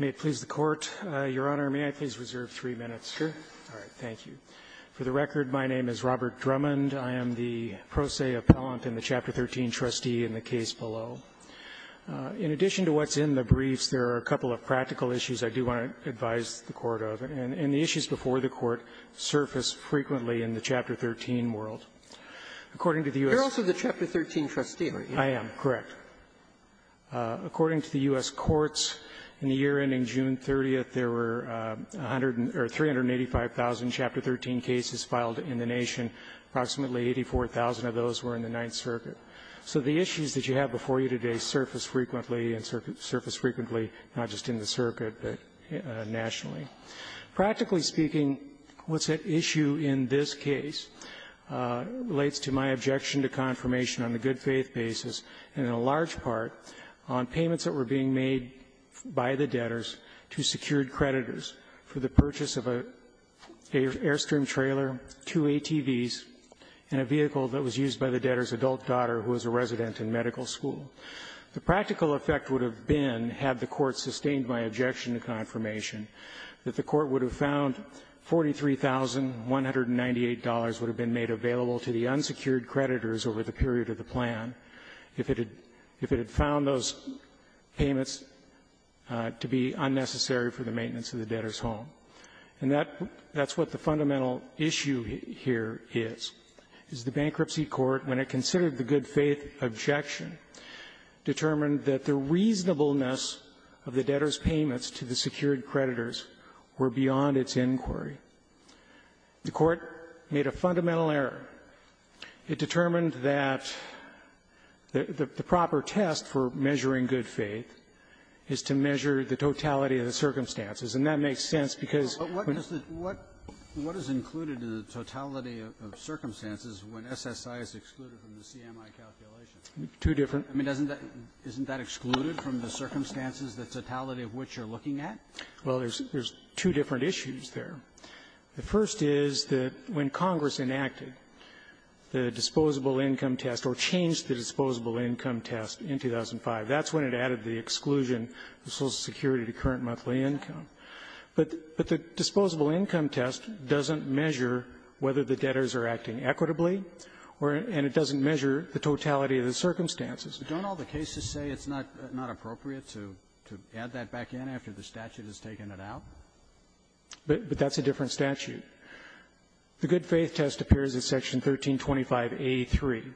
May it please the Court, Your Honor, may I please reserve three minutes? Sure. All right, thank you. For the record, my name is Robert Drummond. I am the pro se appellant and the Chapter 13 trustee in the case below. In addition to what's in the briefs, there are a couple of practical issues I do want to advise the Court of, and the issues before the Court surface frequently in the Chapter 13 world. According to the U.S. You're also the Chapter 13 trustee, aren't you? I am, correct. According to the U.S. courts, in the year ending June 30th, there were 385,000 Chapter 13 cases filed in the nation. Approximately 84,000 of those were in the Ninth Circuit. So the issues that you have before you today surface frequently, and surface frequently not just in the circuit, but nationally. Practically speaking, what's at issue in this case relates to my objection to confirmation on a good-faith basis, and in large part on payments that were being made by the debtors to secured creditors for the purchase of an Airstream trailer, two ATVs, and a vehicle that was used by the debtor's adult daughter, who was a resident in medical school. The practical effect would have been, had the Court sustained my objection to confirmation, that the Court would have found $43,198 would have been made available to the unsecured creditors over the period of the plan if it had found those payments to be unnecessary for the maintenance of the debtor's home. And that's what the fundamental issue here is, is the bankruptcy court, when it considered the good-faith objection, determined that the reasonableness of the debtor's payments to the secured creditors were beyond its inquiry. The Court made a fundamental error. It determined that the proper test for measuring good faith is to measure the totality of the circumstances, and that makes sense because when the ---- Two different. I mean, doesn't that ---- isn't that excluded from the circumstances, the totality of which you're looking at? Well, there's two different issues there. The first is that when Congress enacted the disposable income test or changed the disposable income test in 2005, that's when it added the exclusion of Social Security to current monthly income. But the disposable income test doesn't measure whether the debtors are acting equitably, and it doesn't measure the totality of the circumstances. But don't all the cases say it's not appropriate to add that back in after the statute has taken it out? But that's a different statute. The good-faith test appears in Section 1325a.3.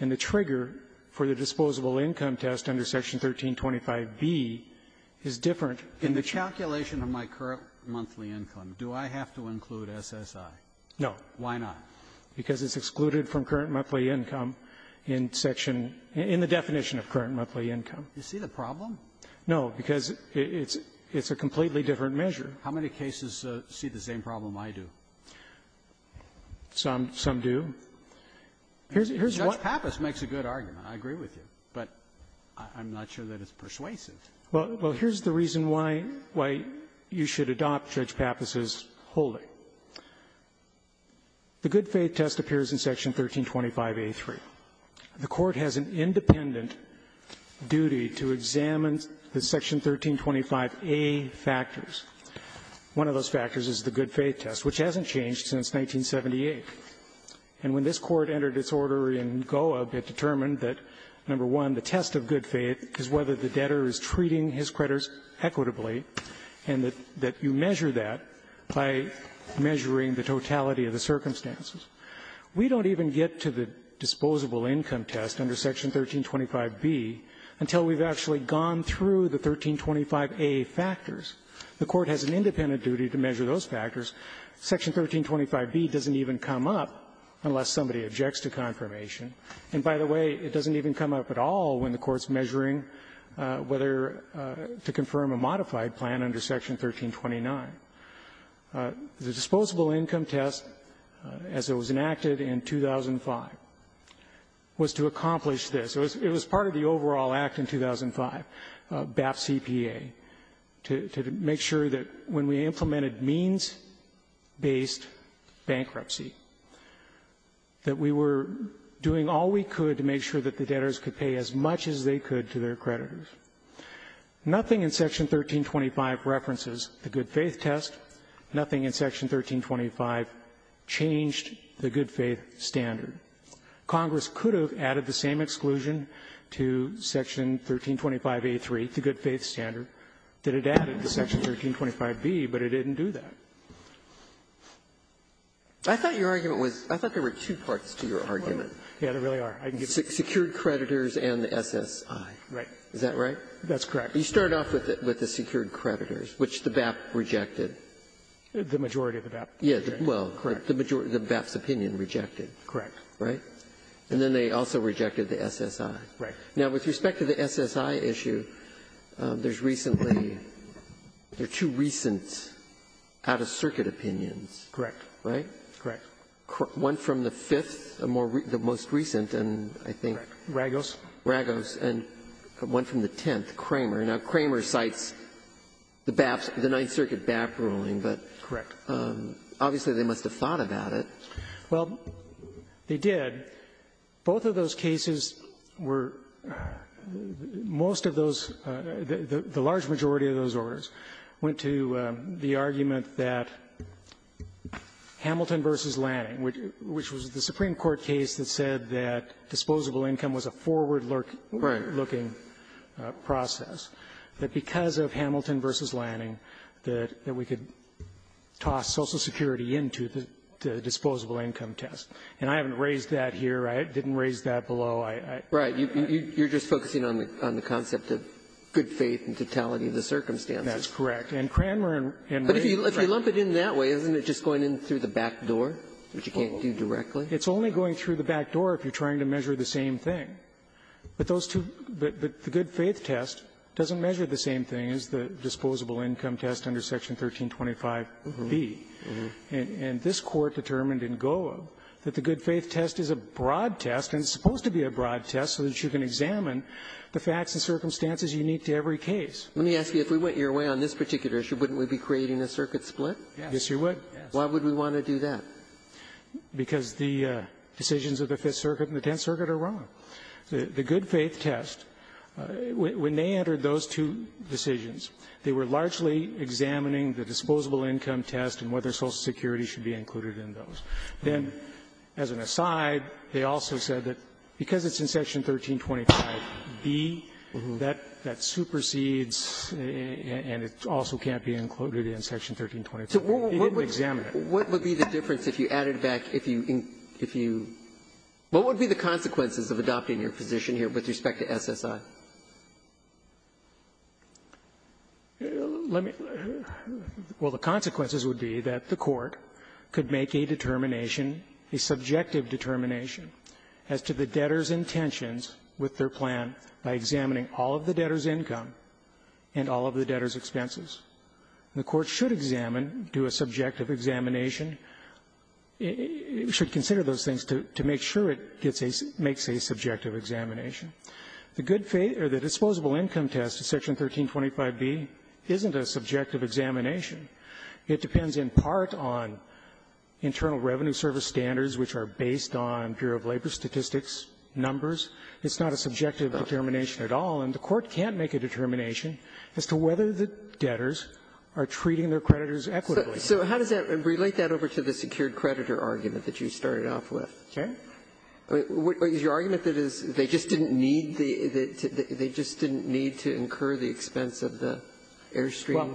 And the trigger for the disposable income test under Section 1325b is different ---- In the calculation of my current monthly income, do I have to include SSI? No. Why not? Because it's excluded from current monthly income in Section ---- in the definition of current monthly income. Do you see the problem? No. Because it's a completely different measure. How many cases see the same problem I do? Some. Some do. Here's what ---- Judge Pappas makes a good argument. I agree with you. But I'm not sure that it's persuasive. Well, here's the reason why you should adopt Judge Pappas's holding. The good-faith test appears in Section 1325a.3. The Court has an independent duty to examine the Section 1325a factors. One of those factors is the good-faith test, which hasn't changed since 1978. And when this Court entered its order in Goa, it determined that, number one, the test of good-faith is whether the debtor is treating his creditors equitably, and that you measure that by measuring the totality of the circumstances. We don't even get to the disposable income test under Section 1325b until we've actually gone through the 1325a factors. The Court has an independent duty to measure those factors. Section 1325b doesn't even come up unless somebody objects to confirmation. And by the way, it doesn't even come up at all when the Court's measuring whether to confirm a modified plan under Section 1329. The disposable income test, as it was enacted in 2005, was to accomplish this. It was part of the overall act in 2005, BAP CPA, to make sure that when we implemented means-based bankruptcy, that we were doing all we could to make sure that the debtors could pay as much as they could to their creditors. Nothing in Section 1325 references the good-faith test. Nothing in Section 1325 changed the good-faith standard. Congress could have added the same exclusion to Section 1325a3, the good-faith standard, that it added to Section 1325b, but it didn't do that. Sotomayor, I thought your argument was – I thought there were two parts to your argument. Yeah, there really are. Secured creditors and the SSI. Right. Is that right? That's correct. You start off with the secured creditors, which the BAP rejected. The majority of the BAP. Yeah. Well, the majority of the BAP's opinion rejected. Correct. Right? And then they also rejected the SSI. Right. Now, with respect to the SSI issue, there's recently – there are two recent out-of-circuit opinions. Correct. Right? Correct. One from the Fifth, the most recent, and I think – Ragos. And one from the Tenth, Cramer. Now, Cramer cites the BAP's – the Ninth Circuit BAP ruling, but – Correct. Obviously, they must have thought about it. Well, they did. Both of those cases were – most of those – the large majority of those orders went to the argument that Hamilton v. Lanning, which was the Supreme Court case that said that disposable income was a forward-looking process, that because of Hamilton v. Lanning, that we could toss Social Security into the disposable income test. And I haven't raised that here. I didn't raise that below. Right. You're just focusing on the concept of good faith and totality of the circumstances. That's correct. And Cramer and Lanning – But if you lump it in that way, isn't it just going in through the back door, which you can't do directly? It's only going through the back door if you're trying to measure the same thing. But those two – but the good faith test doesn't measure the same thing as the disposable income test under Section 1325b. And this Court determined in Goa that the good faith test is a broad test, and it's supposed to be a broad test so that you can examine the facts and circumstances unique to every case. Let me ask you, if we went your way on this particular issue, wouldn't we be creating a circuit split? Yes. Yes, you would. Why would we want to do that? Because the decisions of the Fifth Circuit and the Tenth Circuit are wrong. The good faith test, when they entered those two decisions, they were largely examining the disposable income test and whether Social Security should be included in those. Then, as an aside, they also said that because it's in Section 1325b, that supersedes and it also can't be included in Section 1325b. It didn't examine it. What would be the difference if you added back, if you – if you – what would be the consequences of adopting your position here with respect to SSI? Let me – well, the consequences would be that the Court could make a determination, a subjective determination, as to the debtor's intentions with their plan by examining all of the debtor's income and all of the debtor's expenses. The Court should examine, do a subjective examination, should consider those things to make sure it gets a – makes a subjective examination. The good faith – or the disposable income test in Section 1325b isn't a subjective examination. It depends in part on internal revenue service standards, which are based on Bureau of Labor statistics, numbers. It's not a subjective determination at all. And the Court can't make a determination as to whether the debtors are treating their creditors equitably. Ginsburg. So how does that – relate that over to the secured creditor argument that you started off with. Okay. Is your argument that is they just didn't need the – they just didn't need to incur the expense of the Airstream? Well,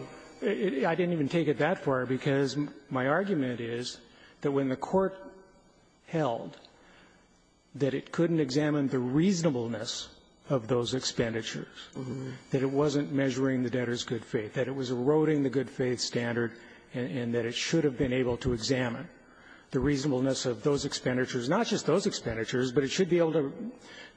I didn't even take it that far, because my argument is that when the Court held that it couldn't examine the reasonableness of those expenditures, that it wasn't measuring the debtor's good faith, that it was eroding the good faith standard, and that it should have been able to examine the reasonableness of those expenditures, not just those expenditures, but it should be able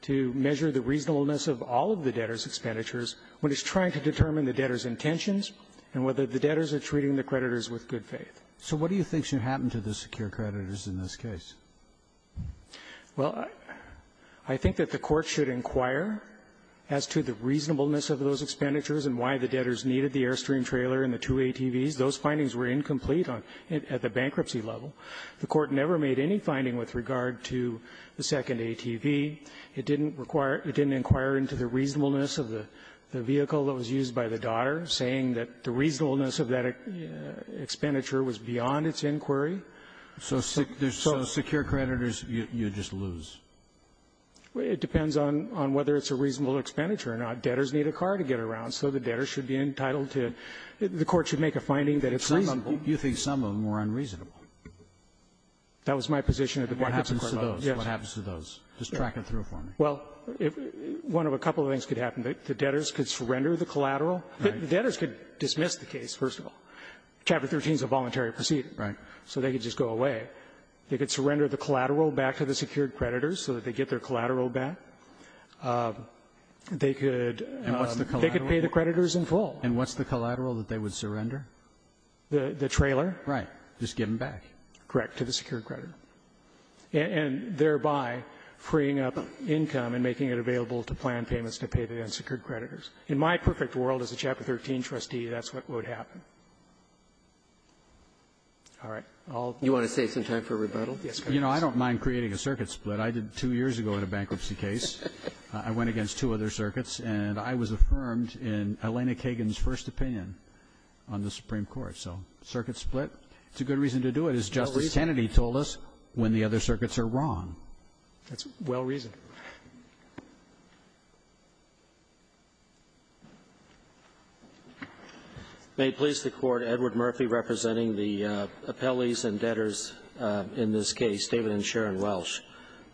to measure the reasonableness of all of the debtor's expenditures when it's trying to determine the debtor's intentions and whether the debtors are treating the creditors with good faith. So what do you think should happen to the secured creditors in this case? Well, I think that the Court should inquire as to the reasonableness of those expenditures and why the debtors needed the Airstream trailer and the two ATVs. Those findings were incomplete on – at the bankruptcy level. The Court never made any finding with regard to the second ATV. It didn't require – it didn't inquire into the reasonableness of the vehicle that was used by the daughter, saying that the reasonableness of that expenditure was beyond its inquiry. So secure creditors, you just lose. It depends on whether it's a reasonable expenditure or not. Debtors need a car to get around, so the debtors should be entitled to – the Court should make a finding that it's reasonable. You think some of them were unreasonable. That was my position at the bankruptcy court level. What happens to those? Just track it through for me. Well, one of a couple of things could happen. The debtors could surrender the collateral. The debtors could dismiss the case, first of all. Chapter 13 is a voluntary proceeding. Right. So they could just go away. They could surrender the collateral back to the secured creditors so that they get their collateral back. They could – And what's the collateral? They could pay the creditors in full. And what's the collateral that they would surrender? The trailer. Right. Just give them back. Correct, to the secured creditor. And thereby freeing up income and making it available to plan payments to pay the unsecured creditors. In my perfect world as a Chapter 13 trustee, that's what would happen. All right. I'll – You want to save some time for rebuttal? Yes, please. You know, I don't mind creating a circuit split. I did two years ago in a bankruptcy case. I went against two other circuits, and I was affirmed in Elena Kagan's first opinion on the Supreme Court. So circuit split, it's a good reason to do it, as Justice Kennedy told us. When the other circuits are wrong. That's well-reasoned. May it please the Court, Edward Murphy representing the appellees and debtors in this case, David and Sharon Welsh.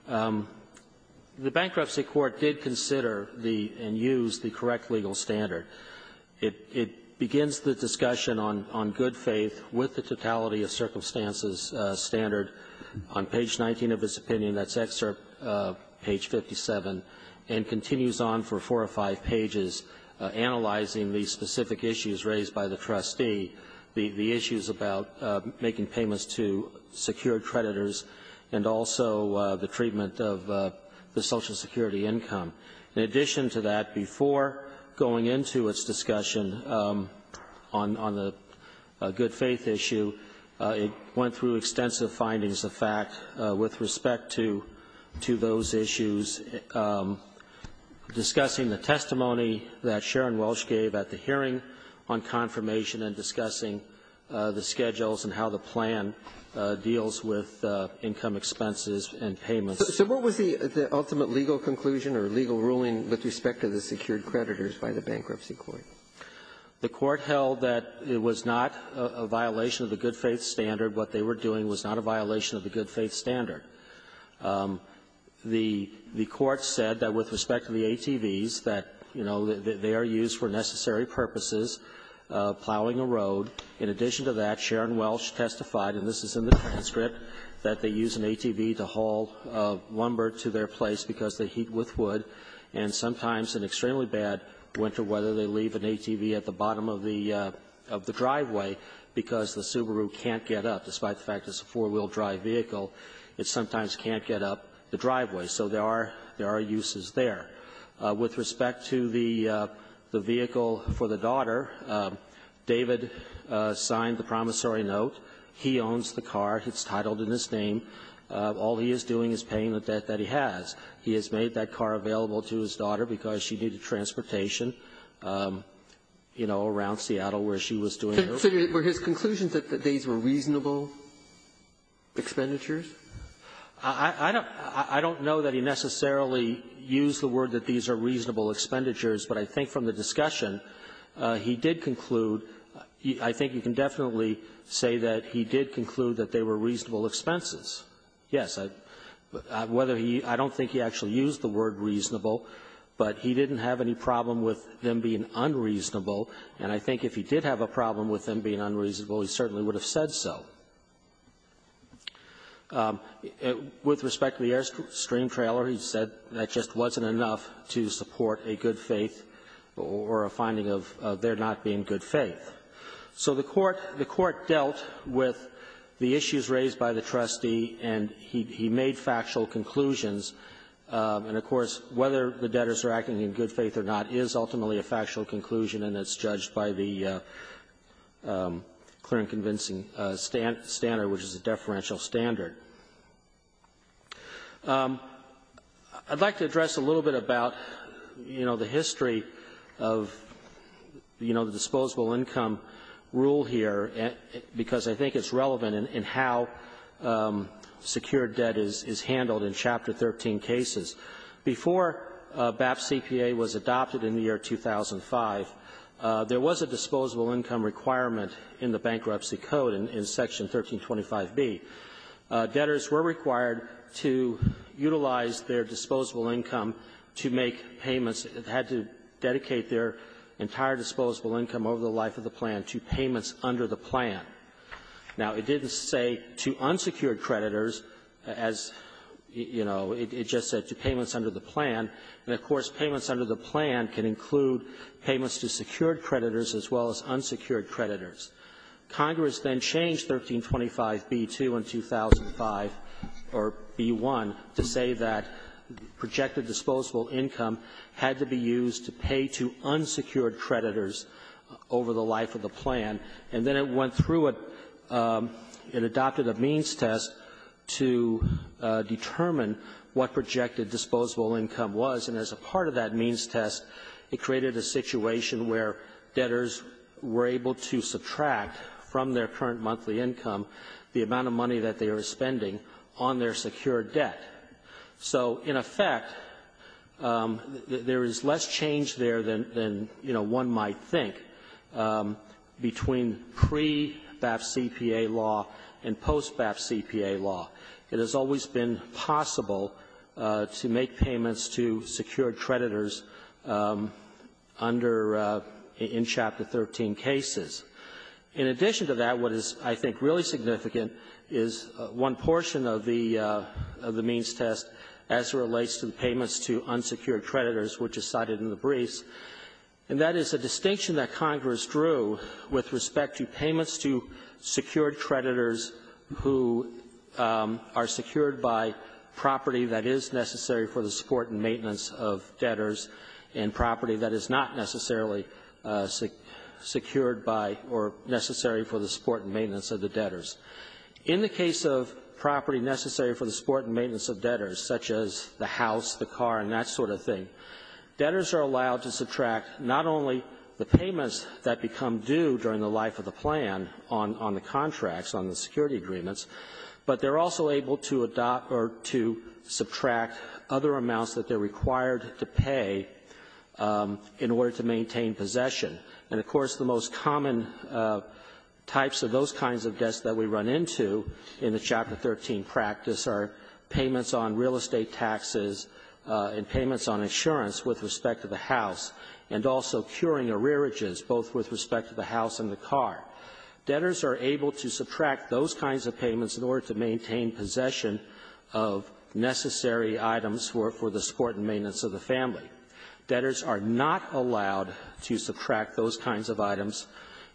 The Bankruptcy Court did consider the – and used the correct legal standard. It – it begins the discussion on – on good faith with the totality-of-circumstances standard on page 19 of its opinion. That's excerpt page 57, and continues on for four or five pages, analyzing the specific issues raised by the trustee, the – the issues about making payments to secured creditors, and also the treatment of the Social Security income. In addition to that, before going into its discussion on – on the good faith issue, it went through extensive findings of fact with respect to – to those issues, discussing the testimony that Sharon Welsh gave at the hearing on confirmation and discussing the schedules and how the plan deals with income expenses and payments. So what was the – the ultimate legal conclusion or legal ruling with respect to the secured creditors by the Bankruptcy Court? The Court held that it was not a violation of the good faith standard. What they were doing was not a violation of the good faith standard. The – the Court said that with respect to the ATVs, that, you know, they are used for necessary purposes, plowing a road. In addition to that, Sharon Welsh testified, and this is in the transcript, that they use an ATV to haul lumber to their place because they heat with wood, and sometimes in extremely bad winter weather, they leave an ATV at the bottom of the – of the driveway because the Subaru can't get up, despite the fact it's a four-wheel drive vehicle, it sometimes can't get up the driveway. So there are – there are uses there. With respect to the – the vehicle for the daughter, David signed the promissory note. He owns the car. It's titled in his name. All he is doing is paying the debt that he has. He has made that car available to his daughter because she needed transportation, you know, around Seattle where she was doing her work. Sotomayor, were his conclusions that these were reasonable expenditures? I don't – I don't know that he necessarily used the word that these are reasonable expenditures, but I think from the discussion, he did conclude – I think you can definitely say that he did conclude that they were reasonable expenses. Yes. I – whether he – I don't think he actually used the word reasonable, but he didn't have any problem with them being unreasonable, and I think if he did have a problem with them being unreasonable, he certainly would have said so. With respect to the Airstream trailer, he said that just wasn't enough to support a good faith or a finding of there not being good faith. So the court – the court – he made factual conclusions, and, of course, whether the debtors are acting in good faith or not is ultimately a factual conclusion, and it's judged by the clear and convincing standard, which is a deferential standard. I'd like to address a little bit about, you know, the history of, you know, the disposable income rule here, because I think it's relevant in how secure debt is, and I think that is handled in Chapter 13 cases. Before BAP CPA was adopted in the year 2005, there was a disposable income requirement in the Bankruptcy Code in Section 1325b. Debtors were required to utilize their disposable income to make payments. They had to dedicate their entire disposable income over the life of the plan to payments under the plan. Now, it didn't say to unsecured creditors, as, you know, it just said to payments under the plan. And, of course, payments under the plan can include payments to secured creditors as well as unsecured creditors. Congress then changed 1325b-2 in 2005, or b-1, to say that projected disposable income had to be used to pay to unsecured creditors over the life of the plan. And then it went through a ‑‑ it adopted a means test to determine what projected disposable income was, and as a part of that means test, it created a situation where debtors were able to subtract from their current monthly income the amount of money that they were spending on their secured debt. So, in effect, there is less change there than, you know, one might think between pre-BAP CPA law and post-BAP CPA law. It has always been possible to make payments to secured creditors under ‑‑ in Chapter 13 cases. In addition to that, what is, I think, really significant is one portion of the means test as it relates to payments to unsecured creditors, which is cited in the briefs, and that is a distinction that Congress drew with respect to payments to secured creditors who are secured by property that is necessary for the support and maintenance of debtors and property that is not necessarily secured by or necessary for the support and maintenance of the debtors. In the case of property necessary for the support and maintenance of debtors, such as the house, the car, and that sort of thing, debtors are allowed to subtract not only the payments that become due during the life of the plan on the contracts, on the security agreements, but they're also able to adopt or to subtract other amounts that they're required to pay in order to maintain possession. And, of course, the most common types of those kinds of debts that we run into in the Chapter 13 practice are payments on real estate taxes and payments on insurance with respect to the house, and also curing arrearages, both with respect to the house and the car. Debtors are able to subtract those kinds of payments in order to maintain possession of necessary items for the support and maintenance of the family. Debtors are not allowed to subtract those kinds of items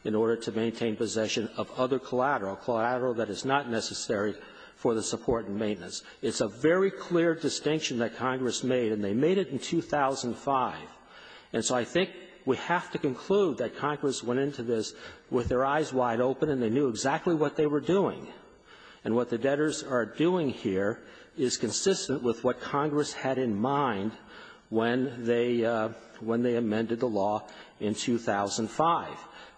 in order to maintain possession of other collateral, collateral that is not necessary for the support and maintenance. It's a very clear distinction that Congress made, and they made it in 2005. And so I think we have to conclude that Congress went into this with their eyes wide open, and they knew exactly what they were doing. And what the debtors are doing here is consistent with what Congress had in mind when they amended the law in 2005.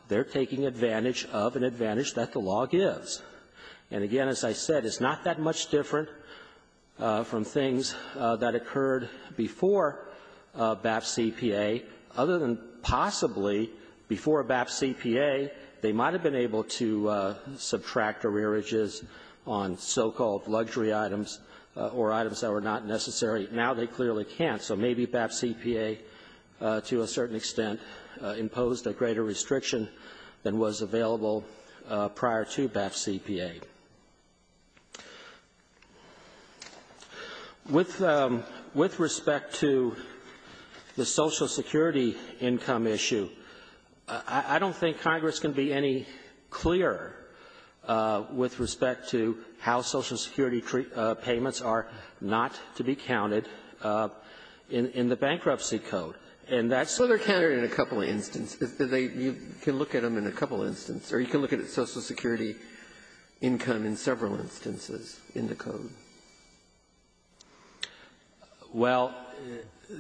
They're taking advantage of an advantage that the law gives. And, again, as I said, it's not that much different from things that occurred before BAP CPA, other than possibly before BAP CPA, they might have been able to get to subtract arrearages on so-called luxury items or items that were not necessary. Now they clearly can't. So maybe BAP CPA, to a certain extent, imposed a greater restriction than was available prior to BAP CPA. With respect to the Social Security income issue, I don't think Congress can be any clearer with respect to how Social Security payments are not to be counted in the Bankruptcy Code. And that's the question. Ginsburg. So they're counted in a couple of instances. You can look at them in a couple of instances. Or you can look at Social Security income in several instances in the Code. Well,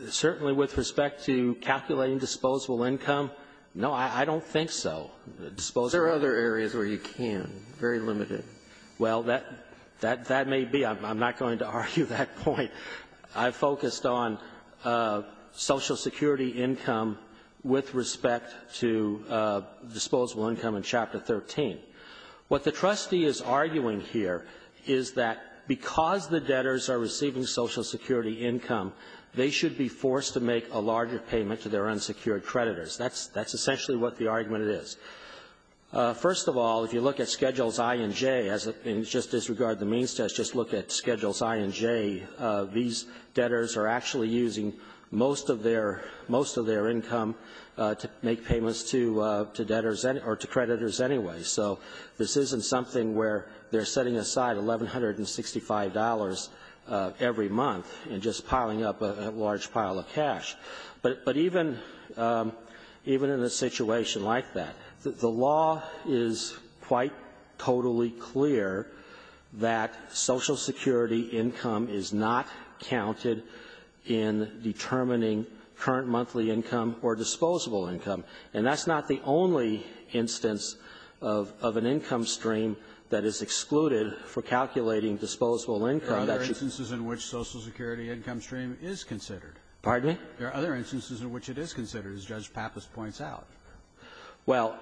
certainly with respect to calculating disposable income, no, I don't think so. There are other areas where you can, very limited. Well, that may be. I'm not going to argue that point. I focused on Social Security income with respect to disposable income in Chapter 13. What the trustee is arguing here is that because the debtors are receiving Social Security income, they should be forced to make a larger payment to their unsecured creditors. That's essentially what the argument is. First of all, if you look at Schedules I and J, and just disregard the means test, just look at Schedules I and J, these aren't, this isn't something where they're setting aside $1,165 every month and just piling up a large pile of cash. But even in a situation like that, the law is quite totally clear that Social Security income is not counted in determining current monthly income or disposable income. And that's not the only instance of an income stream that is excluded for calculating disposable income. That should be considered. There are other instances in which Social Security income stream is considered. Pardon me? There are other instances in which it is considered, as Judge Pappas points out. Well,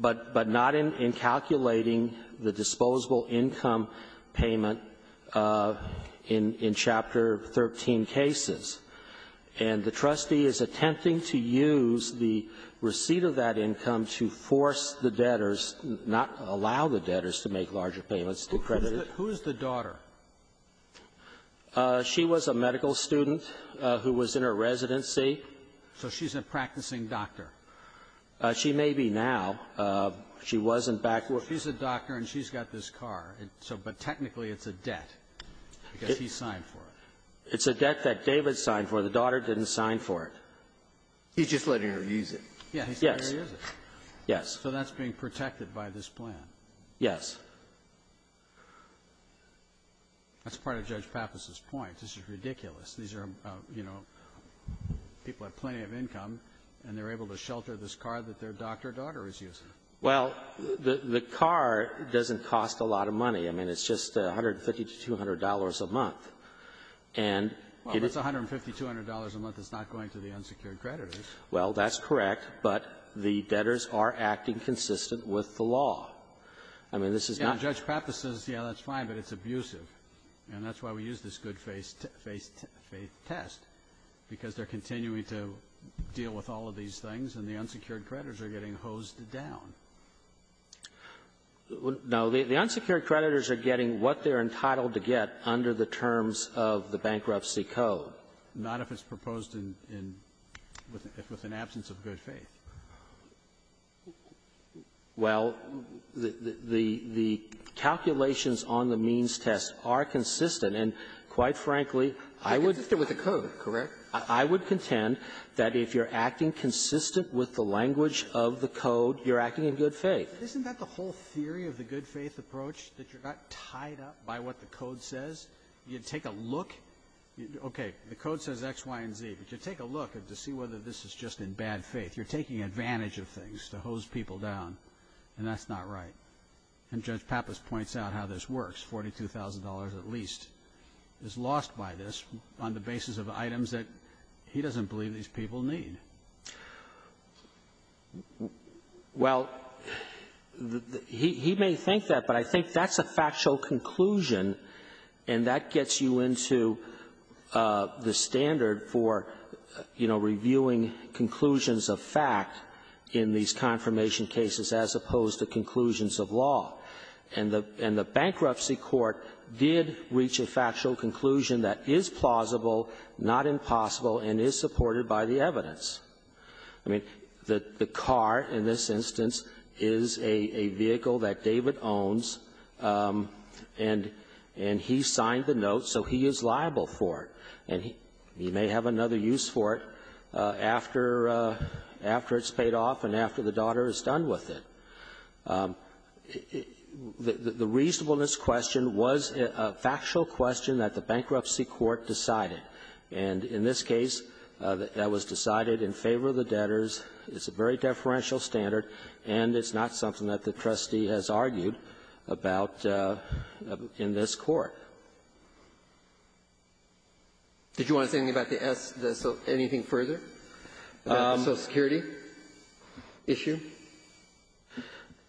but not in calculating the disposable income payment in Chapter 13 cases. And the trustee is attempting to use the receipt of that income to force the debtors not to allow the debtors to make larger payments to creditors. Who is the daughter? She was a medical student who was in her residency. So she's a practicing doctor. She may be now. She wasn't back when we were going to do that. She's a doctor, and she's got this car, but technically it's a debt because he signed for it. It's a debt that David signed for. The daughter didn't sign for it. He's just letting her use it. Yes. Yes. He's letting her use it. Yes. So that's being protected by this plan. Yes. That's part of Judge Pappas's point. This is ridiculous. These are, you know, people have plenty of income, and they're able to shelter this car that their doctor daughter is using. Well, the car doesn't cost a lot of money. I mean, it's just $150 to $200 a month. And it's a $150, $200 a month that's not going to the unsecured creditors. Well, that's correct. But the debtors are acting consistent with the law. I mean, this is not ---- And Judge Pappas says, yeah, that's fine, but it's abusive. And that's why we use this good-faith test, because they're continuing to deal with all of these things, and the unsecured creditors are getting hosed down. No. The unsecured creditors are getting what they're entitled to get under the terms of the Bankruptcy Code. Not if it's proposed in the absence of good faith. Well, the calculations on the means test are consistent. And quite frankly, I would ---- They're consistent with the code, correct? I would contend that if you're acting consistent with the language of the code, you're acting in good faith. Isn't that the whole theory of the good-faith approach, that you're not tied up by what the code says? You take a look. Okay, the code says X, Y, and Z. But you take a look to see whether this is just in bad faith. You're taking advantage of things to hose people down, and that's not right. And Judge Pappas points out how this works. $42,000 at least is lost by this on the basis of items that he doesn't believe these people need. Well, he may think that, but I think that's a factual conclusion, and that gets you into the standard for, you know, reviewing conclusions of fact in these confirmation cases, as opposed to conclusions of law. And the bankruptcy court did reach a factual conclusion that is plausible, not impossible, and is supported by the evidence. I mean, the car in this instance is a vehicle that David owns, and he signed the note, so he is liable for it. And he may have another use for it after it's paid off and after the daughter is done with it. The reasonableness question was a factual question that the bankruptcy court decided. And in this case, that was decided in favor of the debtors. It's a very deferential standard, and it's not something that the trustee has argued about in this Court. Did you want to say anything about the S, the so anything further? The Social Security issue?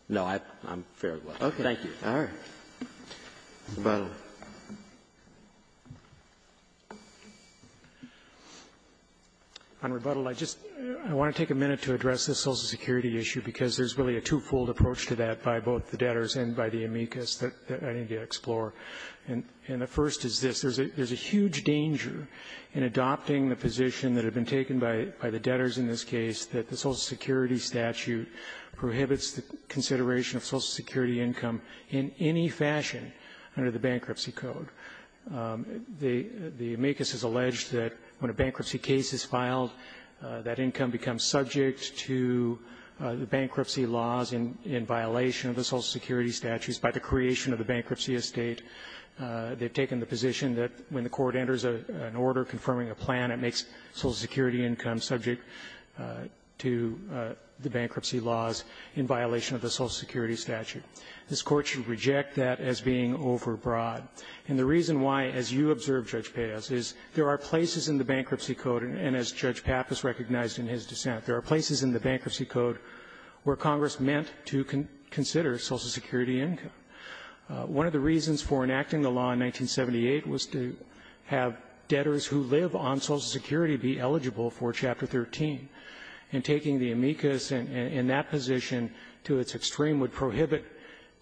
No. I'm fair. Thank you. All right. Mr. Butler. On rebuttal, I just want to take a minute to address the Social Security issue, because there's really a twofold approach to that by both the debtors and by the amicus that I need to explore. And the first is this. There's a huge danger in adopting the position that had been taken by the debtors in this case, that the Social Security statute prohibits the consideration of Social Security income in any fashion under the Bankruptcy Code. The amicus has alleged that when a bankruptcy case is filed, that income becomes subject to the bankruptcy laws in violation of the Social Security statutes by the creation of the bankruptcy estate. They've taken the position that when the court enters an order confirming a plan, it makes Social Security income subject to the bankruptcy laws in violation of the Social Security statute. This Court should reject that as being overbroad. And the reason why, as you observed, Judge Peyos, is there are places in the Bankruptcy Code, and as Judge Pappas recognized in his dissent, there are places in the Bankruptcy Code where Congress meant to consider Social Security income. One of the reasons for enacting the law in 1978 was to have debtors who live on Social Security be eligible for Chapter 13. And taking the amicus in that position to its extreme would prohibit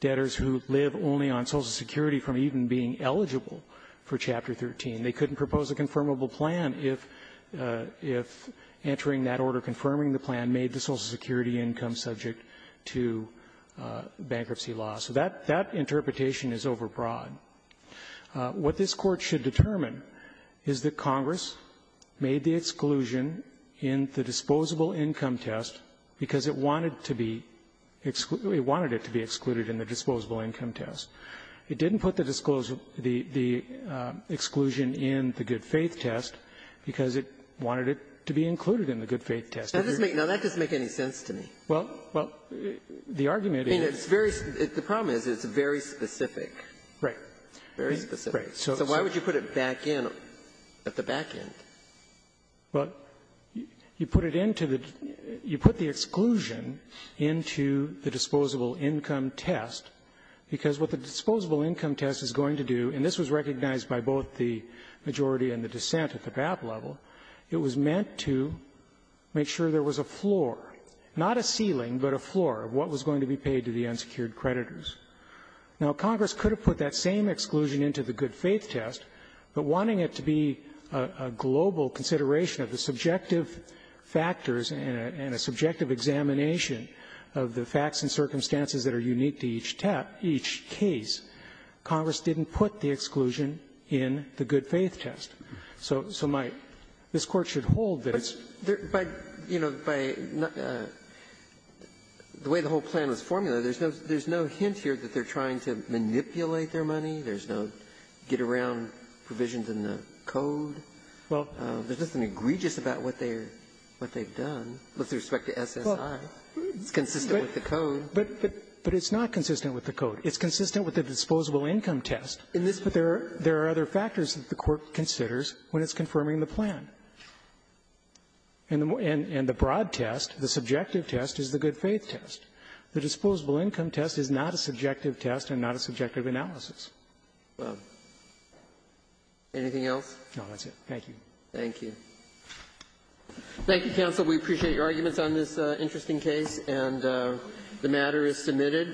debtors who live only on Social Security from even being eligible for Chapter 13. They couldn't propose a confirmable plan if entering that order confirming the plan made the Social Security income subject to bankruptcy laws. So that interpretation is overbroad. What this Court should determine is that Congress made the exclusion in the disposable income test because it wanted to be excluded or wanted it to be excluded in the disposable income test. It didn't put the exclusion in the good-faith test because it wanted it to be included in the good-faith test. Now, that doesn't make any sense to me. Well, the argument is the problem is it's very specific. Right. Very specific. So why would you put it back in at the back end? Well, you put it into the you put the exclusion into the disposable income test because what the disposable income test is going to do, and this was recognized by both the majority and the dissent at the BAP level, it was meant to make sure there was a floor, not a ceiling, but a floor of what was going to be paid to the unsecured creditors. Now, Congress could have put that same exclusion into the good-faith test, but wanting it to be a global consideration of the subjective factors and a subjective examination of the facts and circumstances that are unique to each test, each case, Congress didn't put the exclusion in the good-faith test. So my this Court should hold that it's But, you know, by the way the whole plan was to make sure that they're trying to manipulate their money. There's no get-around provisions in the code. Well, there's nothing egregious about what they're what they've done with respect to SSI. It's consistent with the code. But it's not consistent with the code. It's consistent with the disposable income test. In this, but there are other factors that the Court considers when it's confirming the plan. And the broad test, the subjective test, is the good-faith test. The disposable income test is not a subjective test and not a subjective analysis. Gershengorn Anything else? No, that's it. Thank you. Thank you. Thank you, counsel. We appreciate your arguments on this interesting case, and the matter is submitted.